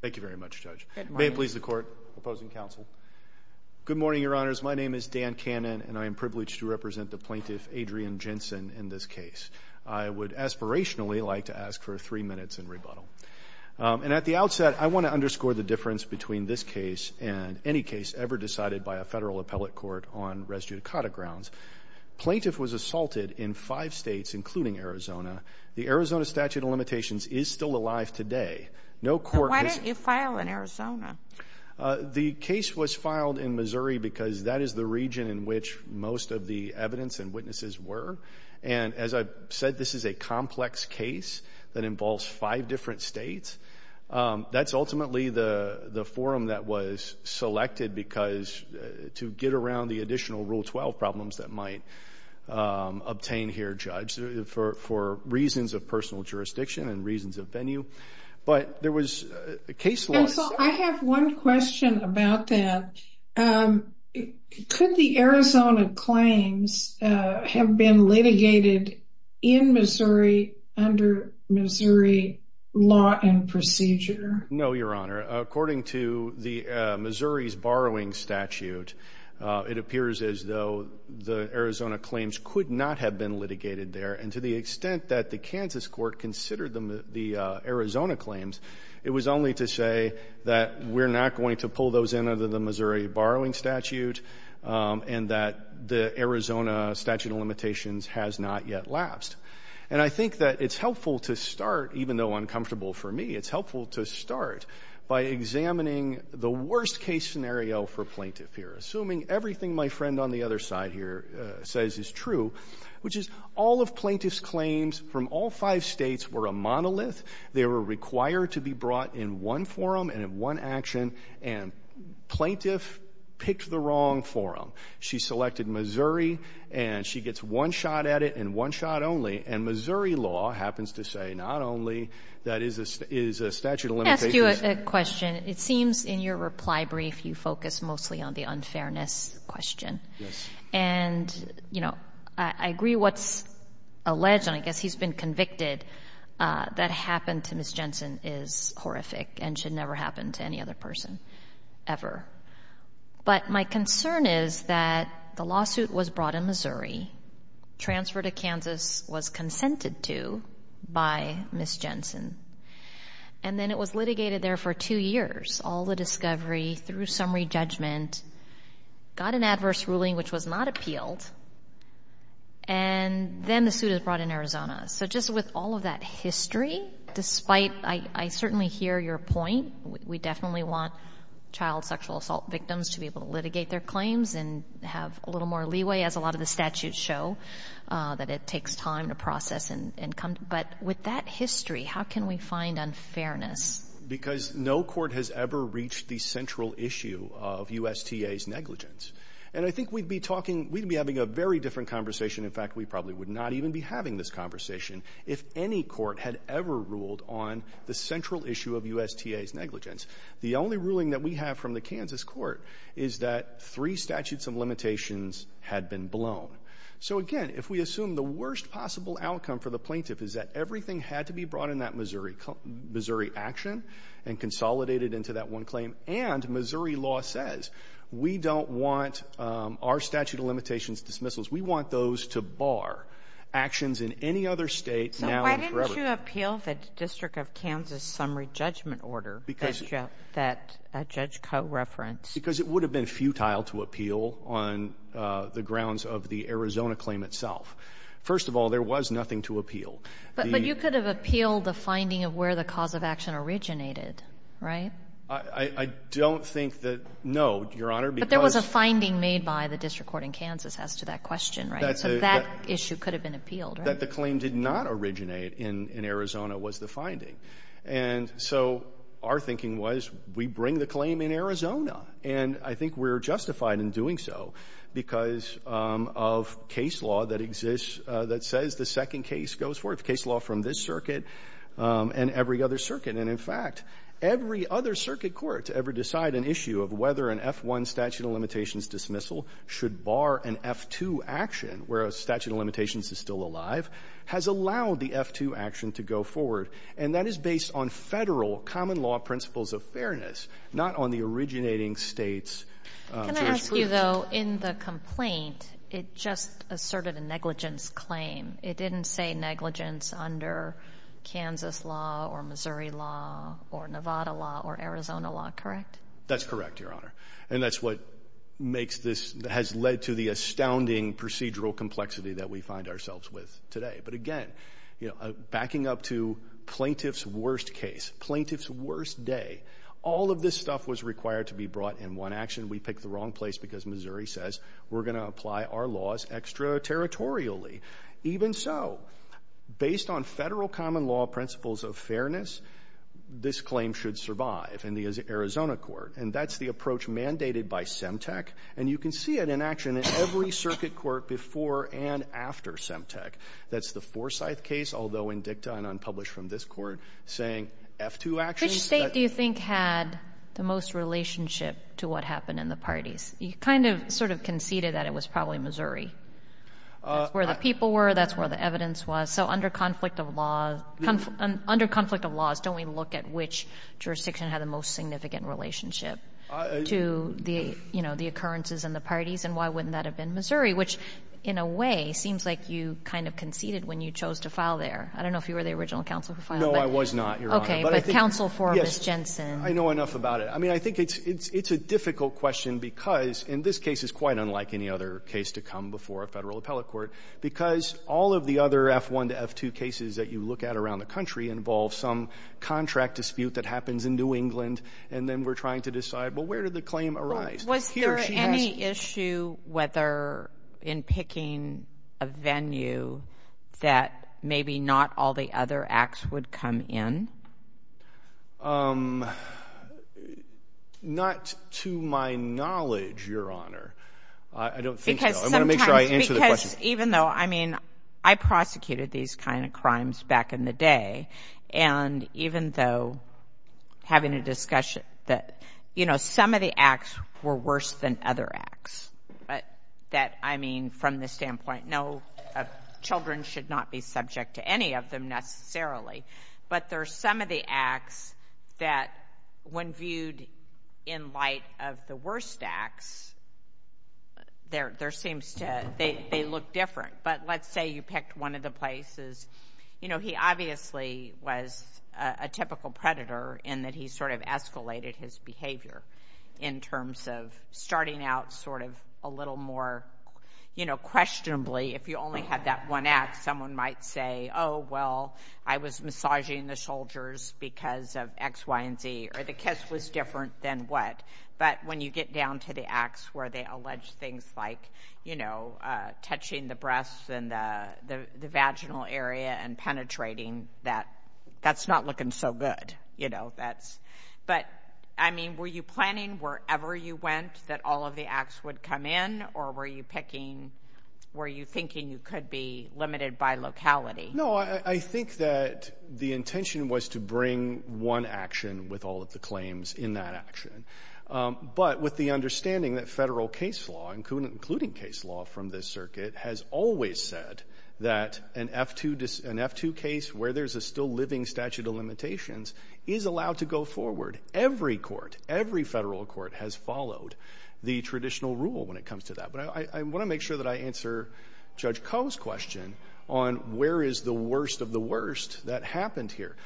Thank you very much, Judge. Good morning. May it please the Court, opposing counsel. Good morning, Your Honors. My name is Dan Cannon, and I am privileged to represent the plaintiff, Adrienne Jensen, in this case. I would aspirationally like to ask for three minutes in rebuttal. And at the outset, I want to underscore the difference between this case and any case ever decided by a federal appellate court on res judicata grounds. The plaintiff was assaulted in five states, including Arizona. The Arizona statute of limitations is still alive today. Why didn't you file in Arizona? The case was filed in Missouri because that is the region in which most of the evidence and witnesses were. And as I said, this is a complex case that involves five different states. That's ultimately the forum that was selected to get around the additional Rule 12 problems that might obtain here, Judge, for reasons of personal jurisdiction and reasons of venue. But there was a case loss. Counsel, I have one question about that. Could the Arizona claims have been litigated in Missouri under Missouri law and procedure? No, Your Honor. According to Missouri's borrowing statute, it appears as though the Arizona claims could not have been litigated there. And to the extent that the Kansas court considered the Arizona claims, it was only to say that we're not going to pull those in under the Missouri borrowing statute and that the Arizona statute of limitations has not yet lapsed. And I think that it's helpful to start, even though uncomfortable for me, it's helpful to start, by examining the worst-case scenario for plaintiff here, assuming everything my friend on the other side here says is true, which is all of plaintiff's claims from all five states were a monolith. They were required to be brought in one forum and in one action, and plaintiff picked the wrong forum. She selected Missouri, and she gets one shot at it and one shot only, and Missouri law happens to say not only that it is a statute of limitations. Let me ask you a question. It seems in your reply brief you focus mostly on the unfairness question. Yes. And, you know, I agree what's alleged, and I guess he's been convicted, that happened to Ms. Jensen is horrific and should never happen to any other person ever. But my concern is that the lawsuit was brought in Missouri, transferred to Kansas, was consented to by Ms. Jensen, and then it was litigated there for two years, all the discovery through summary judgment, got an adverse ruling which was not appealed, and then the suit is brought in Arizona. So just with all of that history, despite I certainly hear your point, we definitely want child sexual assault victims to be able to litigate their claims and have a little more leeway, as a lot of the statutes show, that it takes time to process and come. But with that history, how can we find unfairness? Because no court has ever reached the central issue of USTA's negligence. And I think we'd be talking, we'd be having a very different conversation. In fact, we probably would not even be having this conversation if any court had ever ruled on the central issue of USTA's negligence. The only ruling that we have from the Kansas court is that three statutes of limitations had been blown. So again, if we assume the worst possible outcome for the plaintiff is that everything had to be brought in that Missouri action and consolidated into that one claim, and Missouri law says we don't want our statute of limitations dismissals, we want those to bar actions in any other state now and forever. Why would you appeal the District of Kansas summary judgment order that Judge Coe referenced? Because it would have been futile to appeal on the grounds of the Arizona claim itself. First of all, there was nothing to appeal. But you could have appealed the finding of where the cause of action originated, right? I don't think that, no, Your Honor. But there was a finding made by the district court in Kansas as to that question, right? So that issue could have been appealed, right? But that the claim did not originate in Arizona was the finding. And so our thinking was we bring the claim in Arizona, and I think we're justified in doing so because of case law that exists that says the second case goes forth, case law from this circuit and every other circuit. And in fact, every other circuit court to ever decide an issue of whether an F-1 statute of limitations dismissal should bar an F-2 action where a statute of limitations is still alive has allowed the F-2 action to go forward. And that is based on Federal common law principles of fairness, not on the originating states. Can I ask you, though, in the complaint, it just asserted a negligence claim. It didn't say negligence under Kansas law or Missouri law or Nevada law or Arizona law, correct? That's correct, Your Honor. And that's what makes this has led to the astounding procedural complexity that we find ourselves with today. But, again, backing up to plaintiff's worst case, plaintiff's worst day, all of this stuff was required to be brought in one action. We picked the wrong place because Missouri says we're going to apply our laws extraterritorially. Even so, based on Federal common law principles of fairness, this claim should survive in the Arizona court. And that's the approach mandated by Semtec. And you can see it in action in every circuit court before and after Semtec. That's the Forsyth case, although in dicta and unpublished from this Court, saying F-2 actions. Which State do you think had the most relationship to what happened in the parties? You kind of sort of conceded that it was probably Missouri. That's where the people were. That's where the evidence was. So under conflict of laws, don't we look at which jurisdiction had the most significant relationship to the occurrences in the parties? And why wouldn't that have been Missouri? Which, in a way, seems like you kind of conceded when you chose to file there. I don't know if you were the original counsel who filed. No, I was not, Your Honor. Okay, but counsel for Ms. Jensen. Yes, I know enough about it. I mean, I think it's a difficult question because, in this case, it's quite unlike any other case to come before a Federal appellate court, because all of the other F-1 to F-2 cases that you look at around the country involve some contract dispute that happens in New England, and then we're trying to decide, well, where did the claim arise? Was there any issue whether in picking a venue that maybe not all the other acts would come in? Not to my knowledge, Your Honor. I don't think so. I want to make sure I answer the question. Because even though, I mean, I prosecuted these kind of crimes back in the day, and even though having a discussion that, you know, some of the acts were worse than other acts, that, I mean, from the standpoint, no, children should not be subject to any of them necessarily, but there are some of the acts that, when viewed in light of the worst acts, they look different. But let's say you picked one of the places. You know, he obviously was a typical predator in that he sort of escalated his behavior in terms of starting out sort of a little more, you know, questionably. If you only had that one act, someone might say, oh, well, I was massaging the soldiers because of X, Y, and Z, or the kiss was different than what. But when you get down to the acts where they allege things like, you know, touching the breasts and the vaginal area and penetrating, that's not looking so good, you know. But, I mean, were you planning wherever you went that all of the acts would come in, or were you picking, were you thinking you could be limited by locality? No, I think that the intention was to bring one action with all of the claims in that action. But with the understanding that federal case law, including case law from this circuit, has always said that an F-2 case where there's a still-living statute of limitations is allowed to go forward. Every court, every federal court has followed the traditional rule when it comes to that. But I want to make sure that I answer Judge Koh's question on where is the worst of the worst that happened here.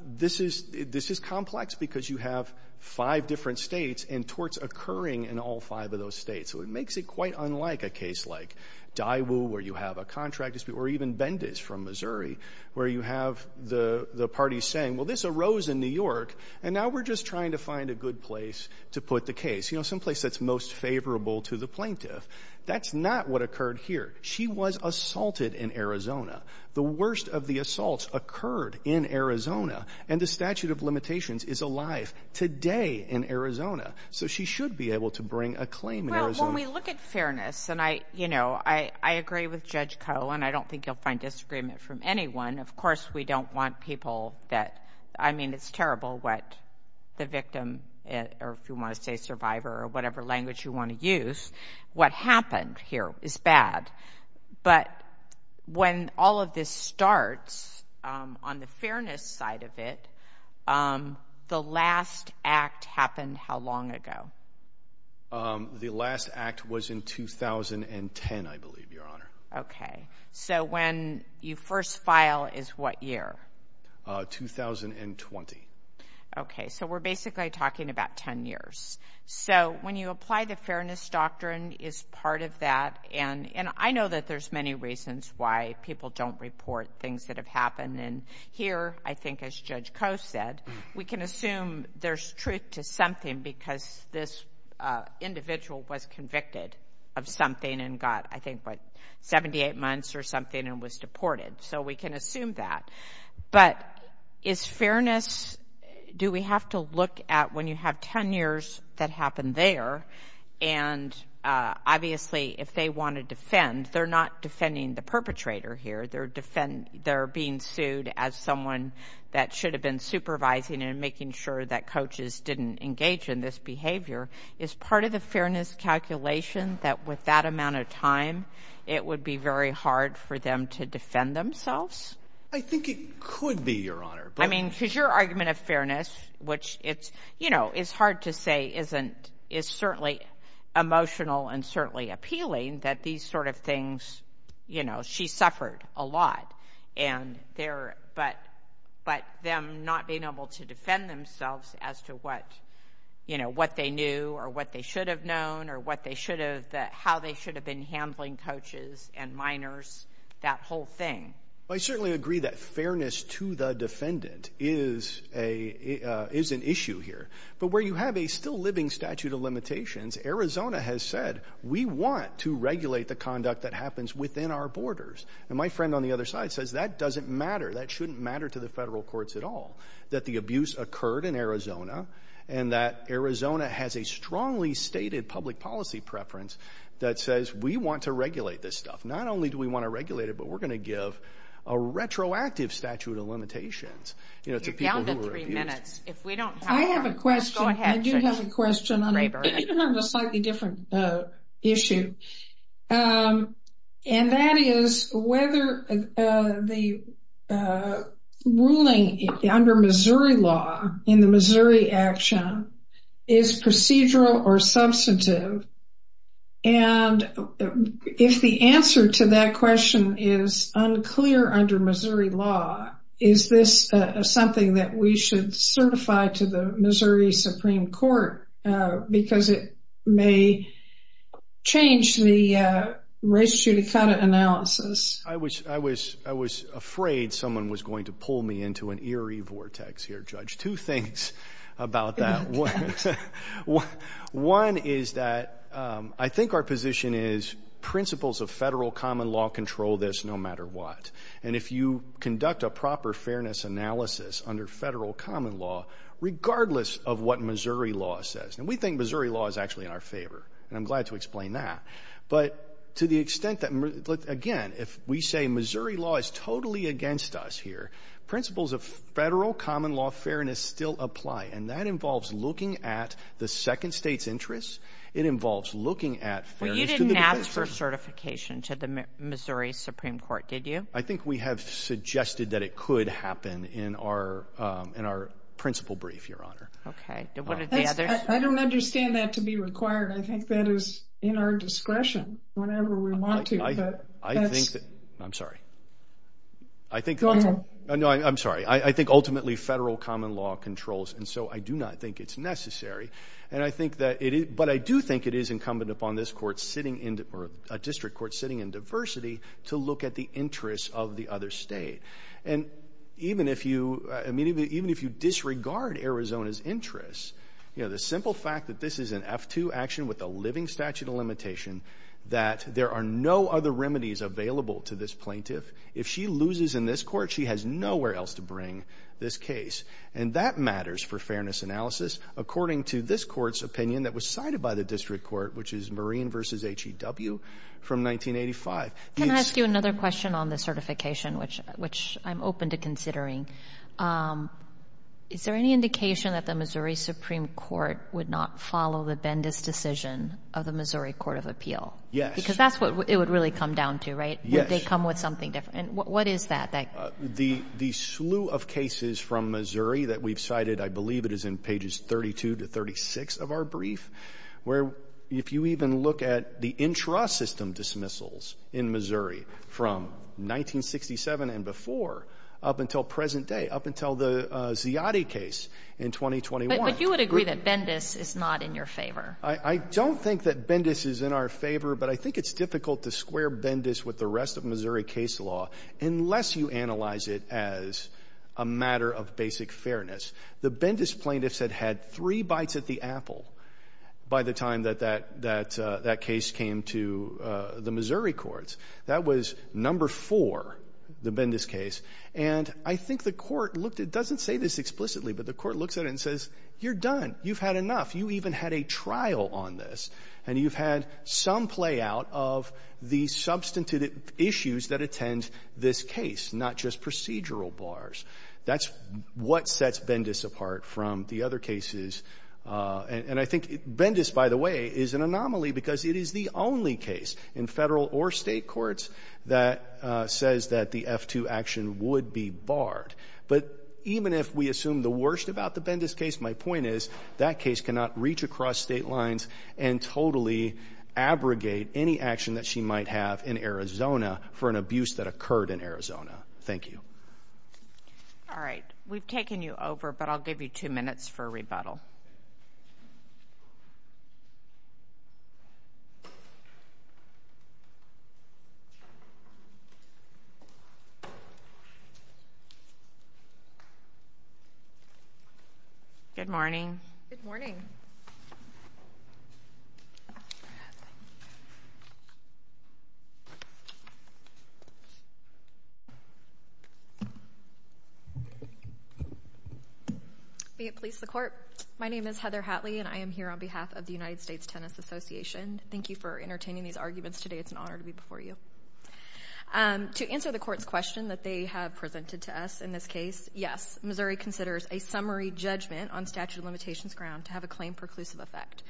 This is complex because you have five different states and torts occurring in all five of those states. So it makes it quite unlike a case like Daiwu, where you have a contract dispute, or even Bendis from Missouri, where you have the parties saying, well, this arose in New York and now we're just trying to find a good place to put the case, you know, someplace that's most favorable to the plaintiff. That's not what occurred here. She was assaulted in Arizona. The worst of the assaults occurred in Arizona, and the statute of limitations is alive today in Arizona. So she should be able to bring a claim in Arizona. Well, when we look at fairness, and I, you know, I agree with Judge Koh, and I don't think you'll find disagreement from anyone. Of course, we don't want people that, I mean, it's terrible what the victim, or if you want to say survivor, or whatever language you want to use, what happened here is bad. But when all of this starts, on the fairness side of it, the last act happened how long ago? The last act was in 2010, I believe, Your Honor. Okay. So when you first file is what year? 2020. Okay. So we're basically talking about 10 years. So when you apply the fairness doctrine is part of that, and I know that there's many reasons why people don't report things that have happened. And here, I think as Judge Koh said, we can assume there's truth to something because this individual was convicted of something and got, I think, what, 78 months or something and was deported. So we can assume that. But is fairness, do we have to look at when you have 10 years that happened there, and obviously if they want to defend, they're not defending the perpetrator here. They're being sued as someone that should have been supervising and making sure that coaches didn't engage in this behavior. Is part of the fairness calculation that with that amount of time, it would be very hard for them to defend themselves? I think it could be, Your Honor. I mean, because your argument of fairness, which it's, you know, it's hard to say isn't, is certainly emotional and certainly appealing that these sort of things, you know, she suffered a lot. And there, but them not being able to defend themselves as to what, you know, what they knew or what they should have known or what they should have, how they should have been handling coaches and minors, that whole thing. I certainly agree that fairness to the defendant is an issue here. But where you have a still living statute of limitations, Arizona has said, we want to regulate the conduct that happens within our borders. And my friend on the other side says that doesn't matter. That shouldn't matter to the federal courts at all, that the abuse occurred in Arizona and that Arizona has a strongly stated public policy preference that says we want to regulate this stuff. Not only do we want to regulate it, but we're going to give a retroactive statute of limitations, you know, to people who were abused. You're down to three minutes. If we don't have time, go ahead. I have a question. I do have a question on a slightly different issue. And that is whether the ruling under Missouri law in the Missouri action is procedural or substantive. And if the answer to that question is unclear under Missouri law, is this something that we should certify to the Missouri Supreme Court because it may change the race judicata analysis? I was afraid someone was going to pull me into an eerie vortex here, Judge. Two things about that. One is that I think our position is principles of federal common law control this no matter what. And if you conduct a proper fairness analysis under federal common law, regardless of what Missouri law says, and we think Missouri law is actually in our favor, and I'm glad to explain that. But to the extent that, again, if we say Missouri law is totally against us here, principles of federal common law fairness still apply. And that involves looking at the second state's interests. It involves looking at fairness to the defense. You didn't offer certification to the Missouri Supreme Court, did you? I think we have suggested that it could happen in our principal brief, Your Honor. Okay. I don't understand that to be required. I think that is in our discretion whenever we want to. I think that – I'm sorry. Go ahead. No, I'm sorry. I think ultimately federal common law controls, and so I do not think it's necessary. And I think that it is – but I do think it is incumbent upon this court sitting in – or a district court sitting in diversity to look at the interests of the other state. And even if you – I mean, even if you disregard Arizona's interests, you know, the simple fact that this is an F-2 action with a living statute of limitation, that there are no other remedies available to this plaintiff. If she loses in this court, she has nowhere else to bring this case. And that matters for fairness analysis according to this court's opinion that was cited by the district court, which is Marine v. HEW from 1985. Can I ask you another question on the certification, which I'm open to considering? Is there any indication that the Missouri Supreme Court would not follow the Bendis decision of the Missouri Court of Appeal? Yes. Because that's what it would really come down to, right? Yes. Would they come with something different? And what is that? The slew of cases from Missouri that we've cited, I believe it is in pages 32 to 36 of our brief, where if you even look at the intrasystem dismissals in Missouri from 1967 and before up until present day, up until the Ziadi case in 2021. But you would agree that Bendis is not in your favor. I don't think that Bendis is in our favor, but I think it's difficult to square Bendis with the rest of Missouri case law unless you analyze it as a matter of basic fairness. The Bendis plaintiffs had had three bites at the apple by the time that that case came to the Missouri courts. That was number four, the Bendis case. And I think the Court looked at it. It doesn't say this explicitly, but the Court looks at it and says, you're done. You've had enough. You even had a trial on this, and you've had some play out of the substantive issues that attend this case, not just procedural bars. That's what sets Bendis apart from the other cases. And I think Bendis, by the way, is an anomaly because it is the only case in Federal or State courts that says that the F-2 action would be barred. But even if we assume the worst about the Bendis case, my point is that case cannot reach across state lines and totally abrogate any action that she might have in Arizona for an abuse that occurred in Arizona. Thank you. All right. We've taken you over, but I'll give you two minutes for rebuttal. Good morning. Good morning. May it please the Court. My name is Heather Hatley, and I am here on behalf of the United States Tennis Association. Thank you for entertaining these arguments today. It's an honor to be before you. To answer the Court's question that they have presented to us in this case, yes, Missouri considers a summary judgment on statute of limitations ground to have a claim preclusive effect.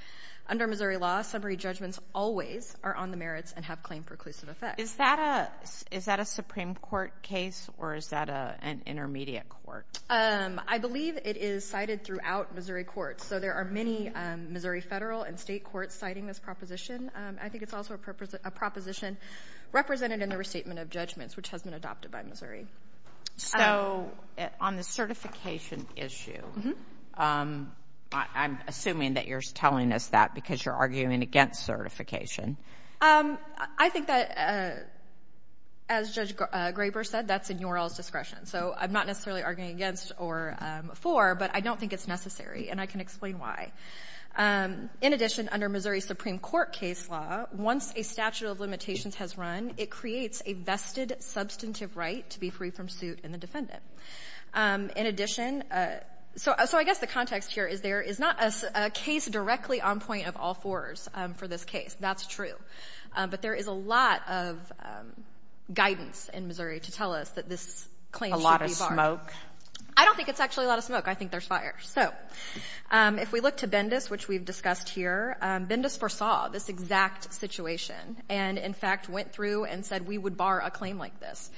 Under Missouri law, summary judgments always are on the merits and have claim preclusive effects. Is that a Supreme Court case or is that an intermediate court? I believe it is cited throughout Missouri courts. So there are many Missouri Federal and State courts citing this proposition. I think it's also a proposition represented in the restatement of judgments, which has been adopted by Missouri. So on the certification issue, I'm assuming that you're telling us that because you're arguing against certification. I think that, as Judge Graber said, that's in your all's discretion. So I'm not necessarily arguing against or for, but I don't think it's necessary, and I can explain why. In addition, under Missouri Supreme Court case law, once a statute of limitations has run, it creates a vested substantive right to be free from suit in the defendant. In addition, so I guess the context here is there is not a case directly on point of all fours for this case. That's true. But there is a lot of guidance in Missouri to tell us that this claim should be barred. I don't think it's actually a lot of smoke. I think there's fire. So if we look to Bendis, which we've discussed here, Bendis foresaw this exact situation and, in fact, went through and said we would bar a claim like this.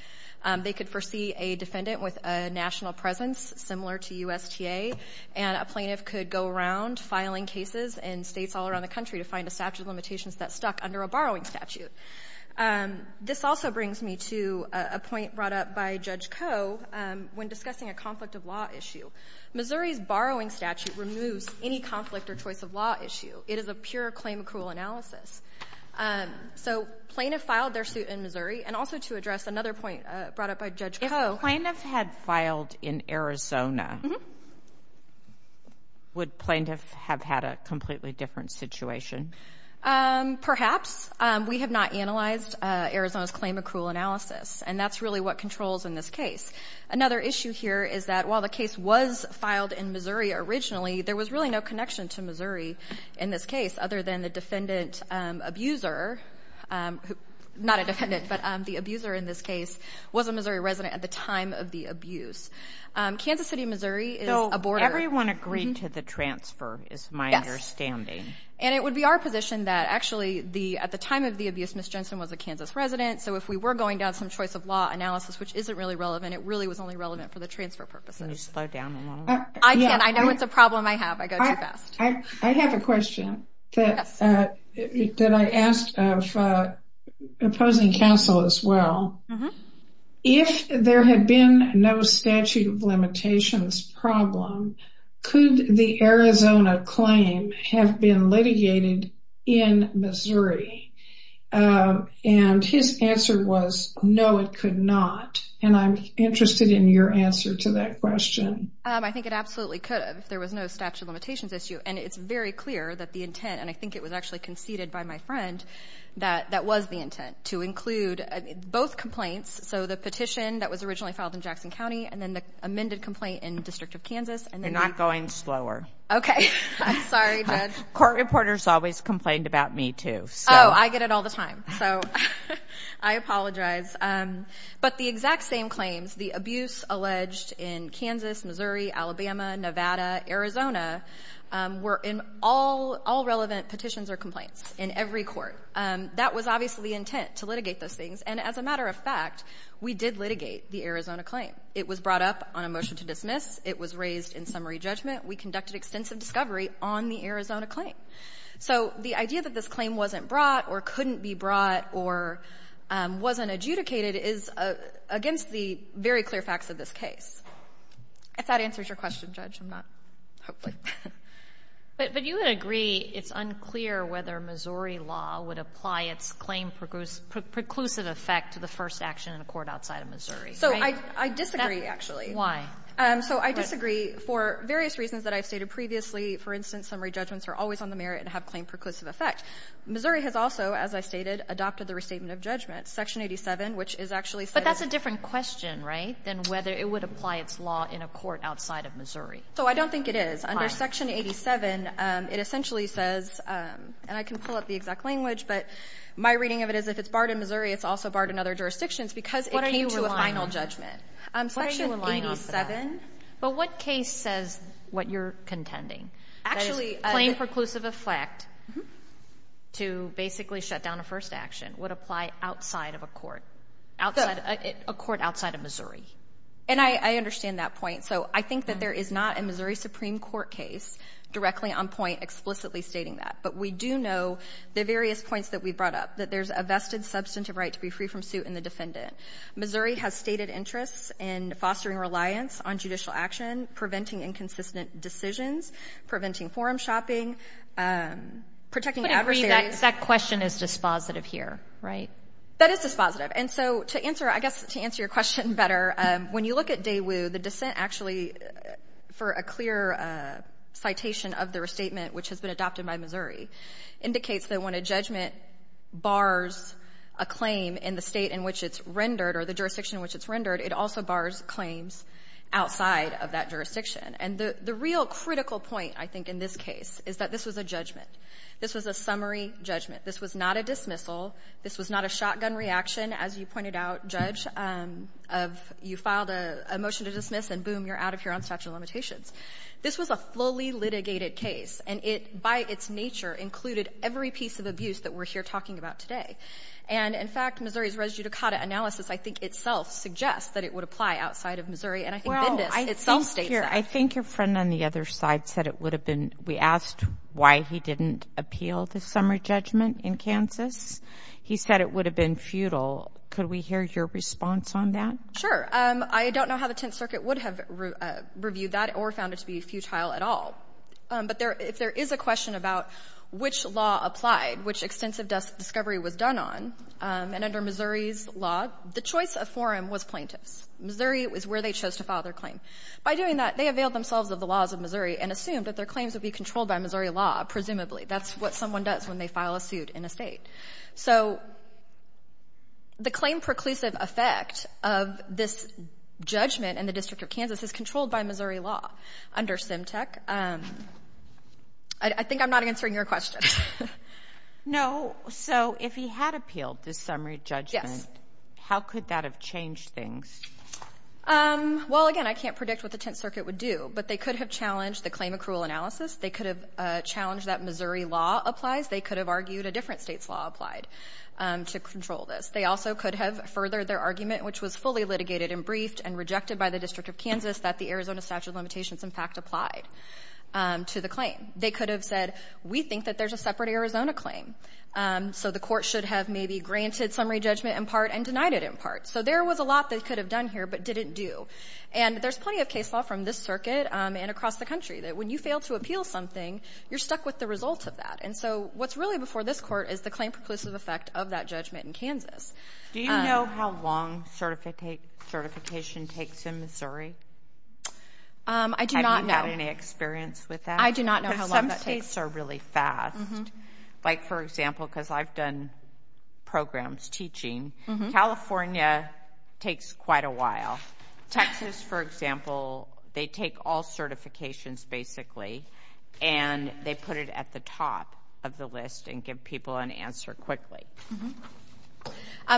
They could foresee a defendant with a national presence similar to USTA, and a plaintiff could go around filing cases in states all around the country to find a statute of limitations that stuck under a borrowing statute. This also brings me to a point brought up by Judge Koh when discussing a conflict of law issue. Missouri's borrowing statute removes any conflict or choice of law issue. It is a pure claim accrual analysis. So plaintiff filed their suit in Missouri. And also to address another point brought up by Judge Koh. If the plaintiff had filed in Arizona, would plaintiff have had a completely different situation? Perhaps. We have not analyzed Arizona's claim accrual analysis. And that's really what controls in this case. Another issue here is that while the case was filed in Missouri originally, there was really no connection to Missouri in this case other than the defendant abuser, not a defendant, but the abuser in this case was a Missouri resident at the time of the abuse. Kansas City, Missouri is a border. Everyone agreed to the transfer is my understanding. Yes. And it would be our position that actually at the time of the abuse, Ms. Jensen was a Kansas resident. So if we were going down some choice of law analysis, which isn't really relevant, it really was only relevant for the transfer purposes. Can you slow down a little bit? I can. I know it's a problem I have. I go too fast. I have a question that I asked of opposing counsel as well. If there had been no statute of limitations problem, could the Arizona claim have been litigated in Missouri? And his answer was no, it could not. And I'm interested in your answer to that question. I think it absolutely could have if there was no statute of limitations issue. And it's very clear that the intent, and I think it was actually conceded by my friend that that was the intent to include both complaints. So the petition that was originally filed in Jackson County and then the amended complaint in the District of Kansas. You're not going slower. Okay. I'm sorry, Judge. Court reporters always complained about me too. Oh, I get it all the time. So I apologize. But the exact same claims, the abuse alleged in Kansas, Missouri, Alabama, Nevada, Arizona, were in all relevant petitions or complaints in every court. That was obviously the intent, to litigate those things. And as a matter of fact, we did litigate the Arizona claim. It was brought up on a motion to dismiss. It was raised in summary judgment. We conducted extensive discovery on the Arizona claim. So the idea that this claim wasn't brought or couldn't be brought or wasn't adjudicated is against the very clear facts of this case. If that answers your question, Judge, I'm not, hopefully. But you would agree it's unclear whether Missouri law would apply its claim preclusive effect to the first action in a court outside of Missouri, right? I disagree, actually. Why? So I disagree for various reasons that I've stated previously. For instance, summary judgments are always on the merit and have claim preclusive effect. Missouri has also, as I stated, adopted the restatement of judgment. Section 87, which is actually said of the law. But that's a different question, right, than whether it would apply its law in a court outside of Missouri. So I don't think it is. Under Section 87, it essentially says, and I can pull up the exact language, but my reading of it is if it's barred in Missouri, it's also barred in other jurisdictions because it came to a final judgment. Section 87. But what case says what you're contending? That is, claim preclusive effect to basically shut down a first action would apply outside of a court, a court outside of Missouri. And I understand that point. So I think that there is not a Missouri Supreme Court case directly on point explicitly stating that. But we do know the various points that we brought up, that there's a vested substantive right to be free from suit in the defendant. Missouri has stated interests in fostering reliance on judicial action, preventing inconsistent decisions, preventing forum shopping, protecting adversaries. That question is dispositive here, right? That is dispositive. And so to answer, I guess, to answer your question better, when you look at Daewoo, the dissent actually, for a clear citation of the restatement, which has been adopted by Missouri, indicates that when a judgment bars a claim in the State in which it's rendered or the jurisdiction in which it's rendered, it also bars claims outside of that jurisdiction. And the real critical point, I think, in this case is that this was a judgment. This was a summary judgment. This was not a dismissal. This was not a shotgun reaction, as you pointed out, Judge, of you filed a motion to dismiss, and boom, you're out of here on statute of limitations. This was a fully litigated case, and it, by its nature, included every piece of abuse that we're here talking about today. And, in fact, Missouri's res judicata analysis, I think, itself suggests that it would apply outside of Missouri, and I think Bindis itself states that. Well, I think, here, I think your friend on the other side said it would have been we asked why he didn't appeal the summary judgment in Kansas. He said it would have been futile. Could we hear your response on that? Sure. I don't know how the Tenth Circuit would have reviewed that or found it to be futile at all. But if there is a question about which law applied, which extensive discovery was done on, and under Missouri's law, the choice of forum was plaintiffs. Missouri was where they chose to file their claim. By doing that, they availed themselves of the laws of Missouri and assumed that their claims would be controlled by Missouri law, presumably. That's what someone does when they file a suit in a state. So the claim preclusive effect of this judgment in the District of Kansas is controlled by Missouri law under SimTech. I think I'm not answering your question. No. So if he had appealed the summary judgment, how could that have changed things? Well, again, I can't predict what the Tenth Circuit would do, but they could have challenged the claim accrual analysis. They could have challenged that Missouri law applies. They could have argued a different state's law applied to control this. They also could have furthered their argument, which was fully litigated and briefed and rejected by the District of Kansas that the Arizona statute of limitations, in fact, applied to the claim. They could have said, we think that there's a separate Arizona claim, so the court should have maybe granted summary judgment in part and denied it in part. So there was a lot they could have done here but didn't do. And there's plenty of case law from this circuit and across the country that when you fail to appeal something, you're stuck with the result of that. And so what's really before this court is the claim preclusive effect of that judgment in Kansas. Do you know how long certification takes in Missouri? I do not know. Have you had any experience with that? I do not know how long that takes. Because some states are really fast. Like, for example, because I've done programs teaching, California takes quite a while. Texas, for example, they take all certifications, basically, and they put it at the top of the list and give people an answer quickly.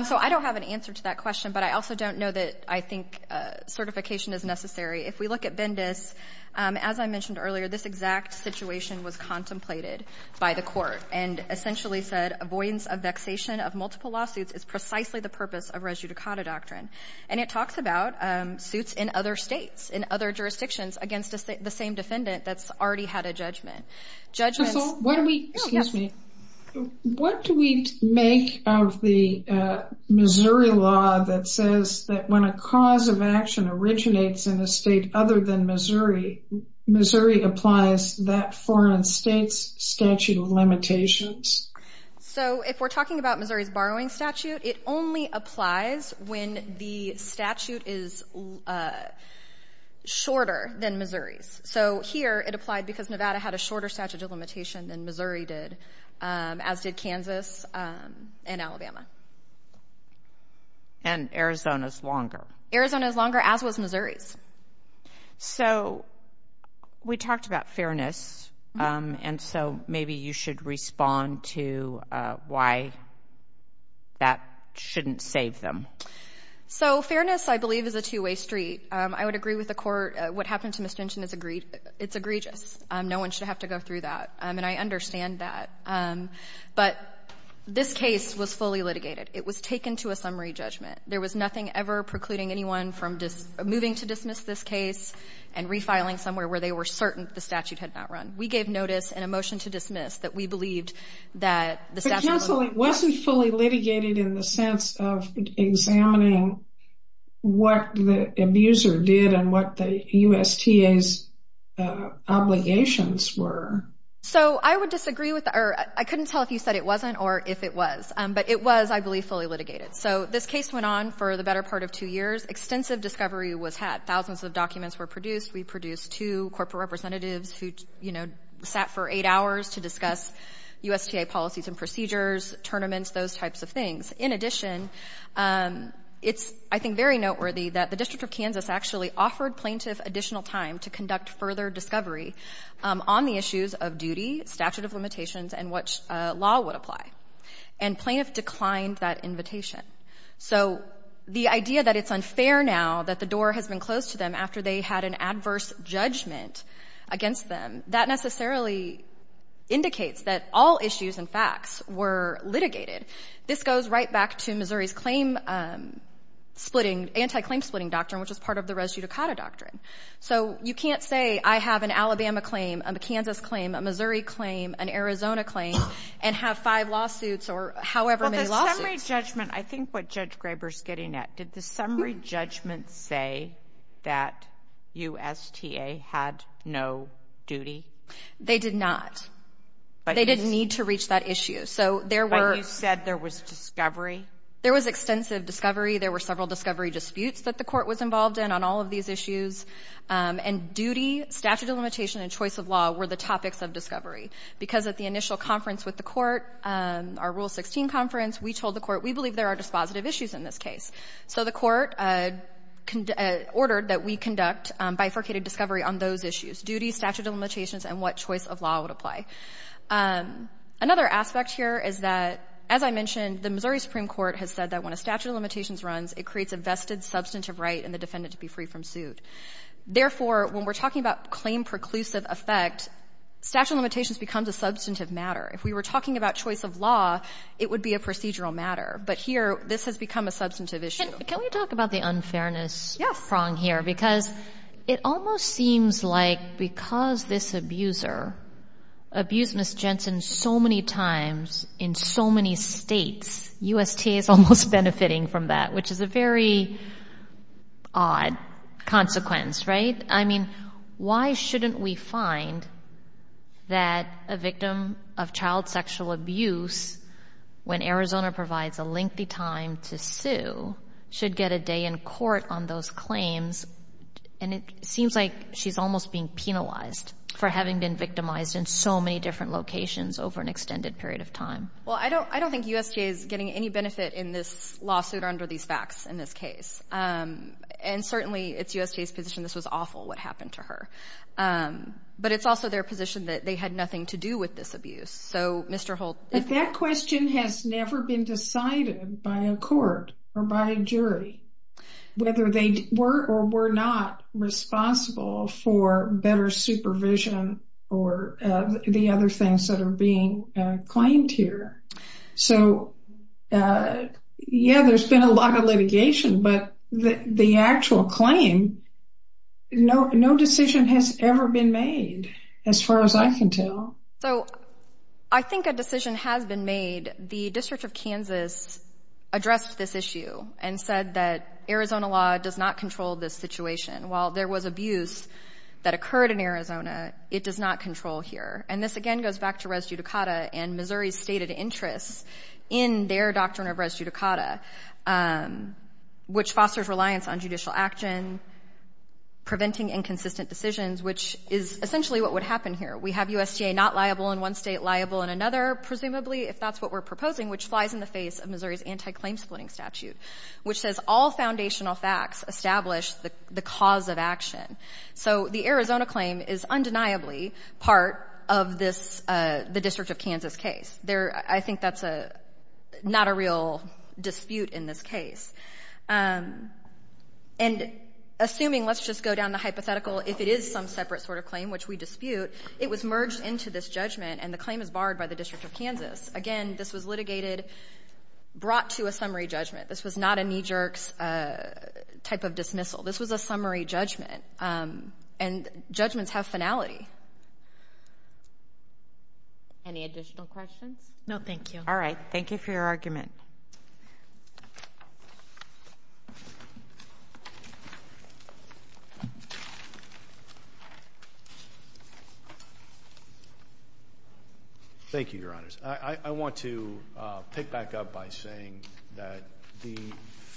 So I don't have an answer to that question, but I also don't know that I think certification is necessary. If we look at Bendis, as I mentioned earlier, this exact situation was contemplated by the court and essentially said avoidance of vexation of multiple lawsuits is precisely the purpose of res judicata doctrine. And it talks about suits in other states, in other jurisdictions, against the same defendant that's already had a judgment. Excuse me. What do we make of the Missouri law that says that when a cause of action originates in a state other than Missouri, Missouri applies that foreign state's statute of limitations? So if we're talking about Missouri's borrowing statute, it only applies when the statute is shorter than Missouri's. So here it applied because Nevada had a shorter statute of limitation than Missouri did, as did Kansas and Alabama. And Arizona's longer. Arizona's longer, as was Missouri's. So we talked about fairness, and so maybe you should respond to why that shouldn't save them. So fairness, I believe, is a two-way street. I would agree with the court. What happened to misdemeanor is egregious. No one should have to go through that, and I understand that. But this case was fully litigated. It was taken to a summary judgment. There was nothing ever precluding anyone from moving to dismiss this case and refiling somewhere where they were certain the statute had not run. We gave notice and a motion to dismiss that we believed that the statute of limitations. But counseling wasn't fully litigated in the sense of examining what the abuser did and what the USTA's obligations were. So I would disagree with that. I couldn't tell if you said it wasn't or if it was. But it was, I believe, fully litigated. So this case went on for the better part of two years. Extensive discovery was had. Thousands of documents were produced. We produced two corporate representatives who, you know, sat for eight hours to discuss USTA policies and procedures, tournaments, those types of things. In addition, it's, I think, very noteworthy that the District of Kansas actually offered plaintiff additional time to conduct further discovery on the issues of duty, statute of limitations, and which law would apply. And plaintiff declined that invitation. So the idea that it's unfair now that the door has been closed to them after they had an adverse judgment against them, that necessarily indicates that all issues and facts were litigated. This goes right back to Missouri's claim splitting, anti-claim splitting doctrine, which is part of the res judicata doctrine. So you can't say I have an Alabama claim, a Kansas claim, a Missouri claim, an Arizona claim, and have five lawsuits or however many lawsuits. Well, the summary judgment, I think what Judge Graber is getting at, did the summary judgment say that USTA had no duty? They did not. They didn't need to reach that issue. But you said there was discovery? There was extensive discovery. There were several discovery disputes that the court was involved in on all of these issues. And duty, statute of limitation, and choice of law were the topics of discovery. Because at the initial conference with the court, our Rule 16 conference, we told the court we believe there are dispositive issues in this case. So the court ordered that we conduct bifurcated discovery on those issues, duty, statute of limitations, and what choice of law would apply. Another aspect here is that, as I mentioned, the Missouri Supreme Court has said that when a statute of limitations runs, it creates a vested substantive right in the defendant to be free from suit. Therefore, when we're talking about claim preclusive effect, statute of limitations becomes a substantive matter. If we were talking about choice of law, it would be a procedural matter. But here, this has become a substantive issue. Can we talk about the unfairness prong here? Because it almost seems like because this abuser abused Ms. Jensen so many times in so many states, USTA is almost benefiting from that, which is a very odd consequence, right? I mean, why shouldn't we find that a victim of child sexual abuse, when Arizona provides a lengthy time to sue, should get a day in court on those claims? And it seems like she's almost being penalized for having been victimized in so many different locations over an extended period of time. Well, I don't think USTA is getting any benefit in this lawsuit under these facts in this case. And certainly, it's USTA's position this was awful, what happened to her. But it's also their position that they had nothing to do with this abuse. But that question has never been decided by a court or by a jury, whether they were or were not responsible for better supervision or the other things that are being claimed here. So, yeah, there's been a lot of litigation, but the actual claim, no decision has ever been made, as far as I can tell. So, I think a decision has been made. The District of Kansas addressed this issue and said that Arizona law does not control this situation. While there was abuse that occurred in Arizona, it does not control here. And this, again, goes back to res judicata and Missouri's stated interests in their doctrine of res judicata, which fosters reliance on judicial action, preventing inconsistent decisions, which is essentially what would happen here. We have USTA not liable in one state, liable in another, presumably, if that's what we're proposing, which flies in the face of Missouri's anti-claim-splitting statute, which says all foundational facts establish the cause of action. So the Arizona claim is undeniably part of this, the District of Kansas case. There, I think that's a, not a real dispute in this case. And assuming, let's just go down the hypothetical, if it is some separate sort of claim which we dispute, it was merged into this judgment and the claim is barred by the District of Kansas. Again, this was litigated, brought to a summary judgment. This is not a knee-jerk type of dismissal. This was a summary judgment. And judgments have finality. Any additional questions? No, thank you. All right. Thank you for your argument. Thank you, Your Honors. I want to pick back up by saying that the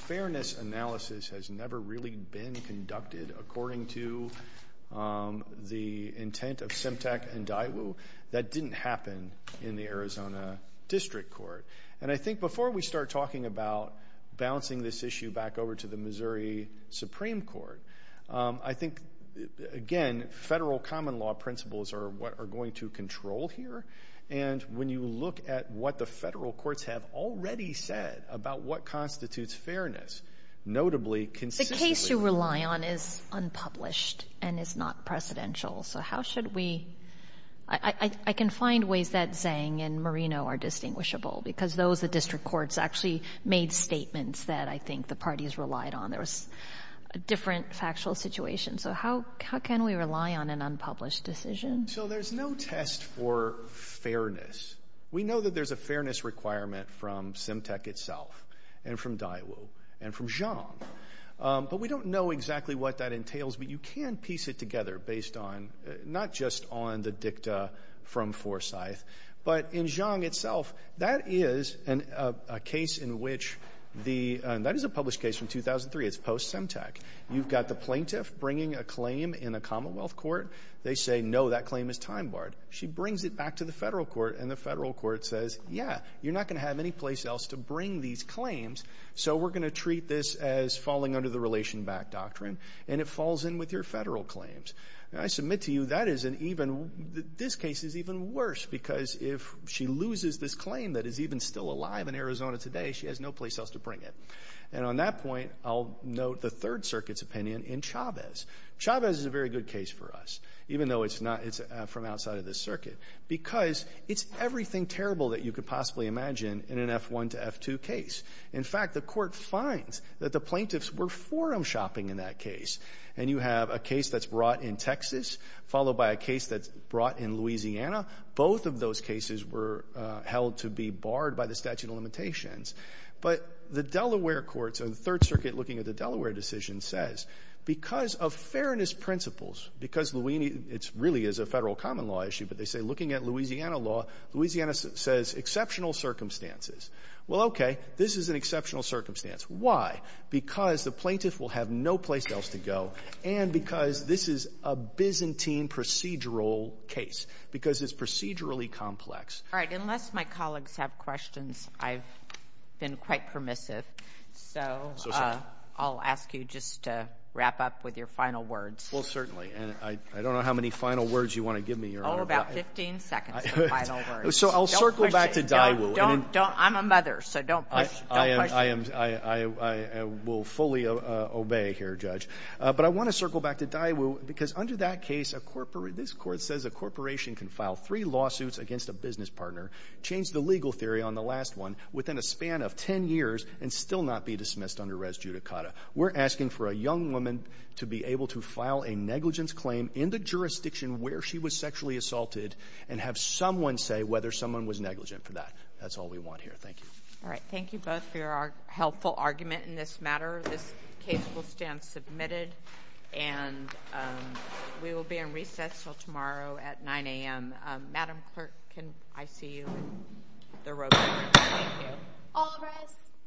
fairness analysis has never really been conducted according to the intent of Semtec and Daiwu. That didn't happen in the Arizona District Court. And I think before we start talking about bouncing this issue back over to the Missouri Supreme Court, I think, again, federal common law principles are what are going to control here. And when you look at what the federal courts have already said about what constitutes fairness, notably, consistently... The case you rely on is unpublished and is not precedential. So how should we... I can find ways that Zhang and Marino are distinguishable because those, the district courts, actually made statements that I think the parties relied on. There was a different factual situation. So how can we rely on an unpublished decision? So there's no test for fairness. We know that there's a fairness requirement from Semtec itself and from Daiwu and from Zhang. But we don't know exactly what that entails. But you can piece it together based on, not just on the dicta from Forsyth, but in Zhang itself, that is a case in which the... That is a published case from 2003. It's post-Semtec. You've got the plaintiff bringing a claim in a commonwealth court. They say, no, that claim is time-barred. She brings it back to the federal court, and the federal court says, yeah, you're not going to have any place else to bring these claims, so we're going to treat this as falling under the relation back doctrine, and it falls in with your federal claims. And I submit to you, that is an even... This case is even worse because if she loses this claim that is even still alive in Arizona today, she has no place else to bring it. And on that point, I'll note the Third Circuit's opinion in Chavez. Chavez is a very good case for us. Even though it's not... It's from outside of this circuit. Because it's everything terrible that you could possibly imagine in an F1 to F2 case. In fact, the Court finds that the plaintiffs were forum shopping in that case. And you have a case that's brought in Texas, followed by a case that's brought in Louisiana. Both of those cases were held to be barred by the statute of limitations. But the Delaware courts and the Third Circuit, looking at the Delaware decision, says, because of fairness principles, because Louisiana... It really is a Federal common law issue, but they say looking at Louisiana law, Louisiana says exceptional circumstances. Well, okay. This is an exceptional circumstance. Why? Because the plaintiff will have no place else to go, and because this is a Byzantine procedural case, because it's procedurally complex. All right. Unless my colleagues have questions, I've been quite permissive. So I'll ask you just to... wrap up with your final words. Well, certainly. And I don't know how many final words you want to give me, Your Honor. Oh, about 15 seconds of final words. So I'll circle back to Daiwu. I'm a mother, so don't push. I will fully obey here, Judge. But I want to circle back to Daiwu, because under that case, this Court says a corporation can file three lawsuits against a business partner, change the legal theory on the last one, within a span of 10 years, and still not be dismissed under res judicata. We're asking for a young woman to be able to file a negligence claim in the jurisdiction where she was sexually assaulted, and have someone say whether someone was negligent for that. That's all we want here. Thank you. All right. Thank you both for your helpful argument in this matter. This case will stand submitted, and we will be in recess until tomorrow at 9 a.m. Madam Clerk, can I see you in the room? Thank you. All rise.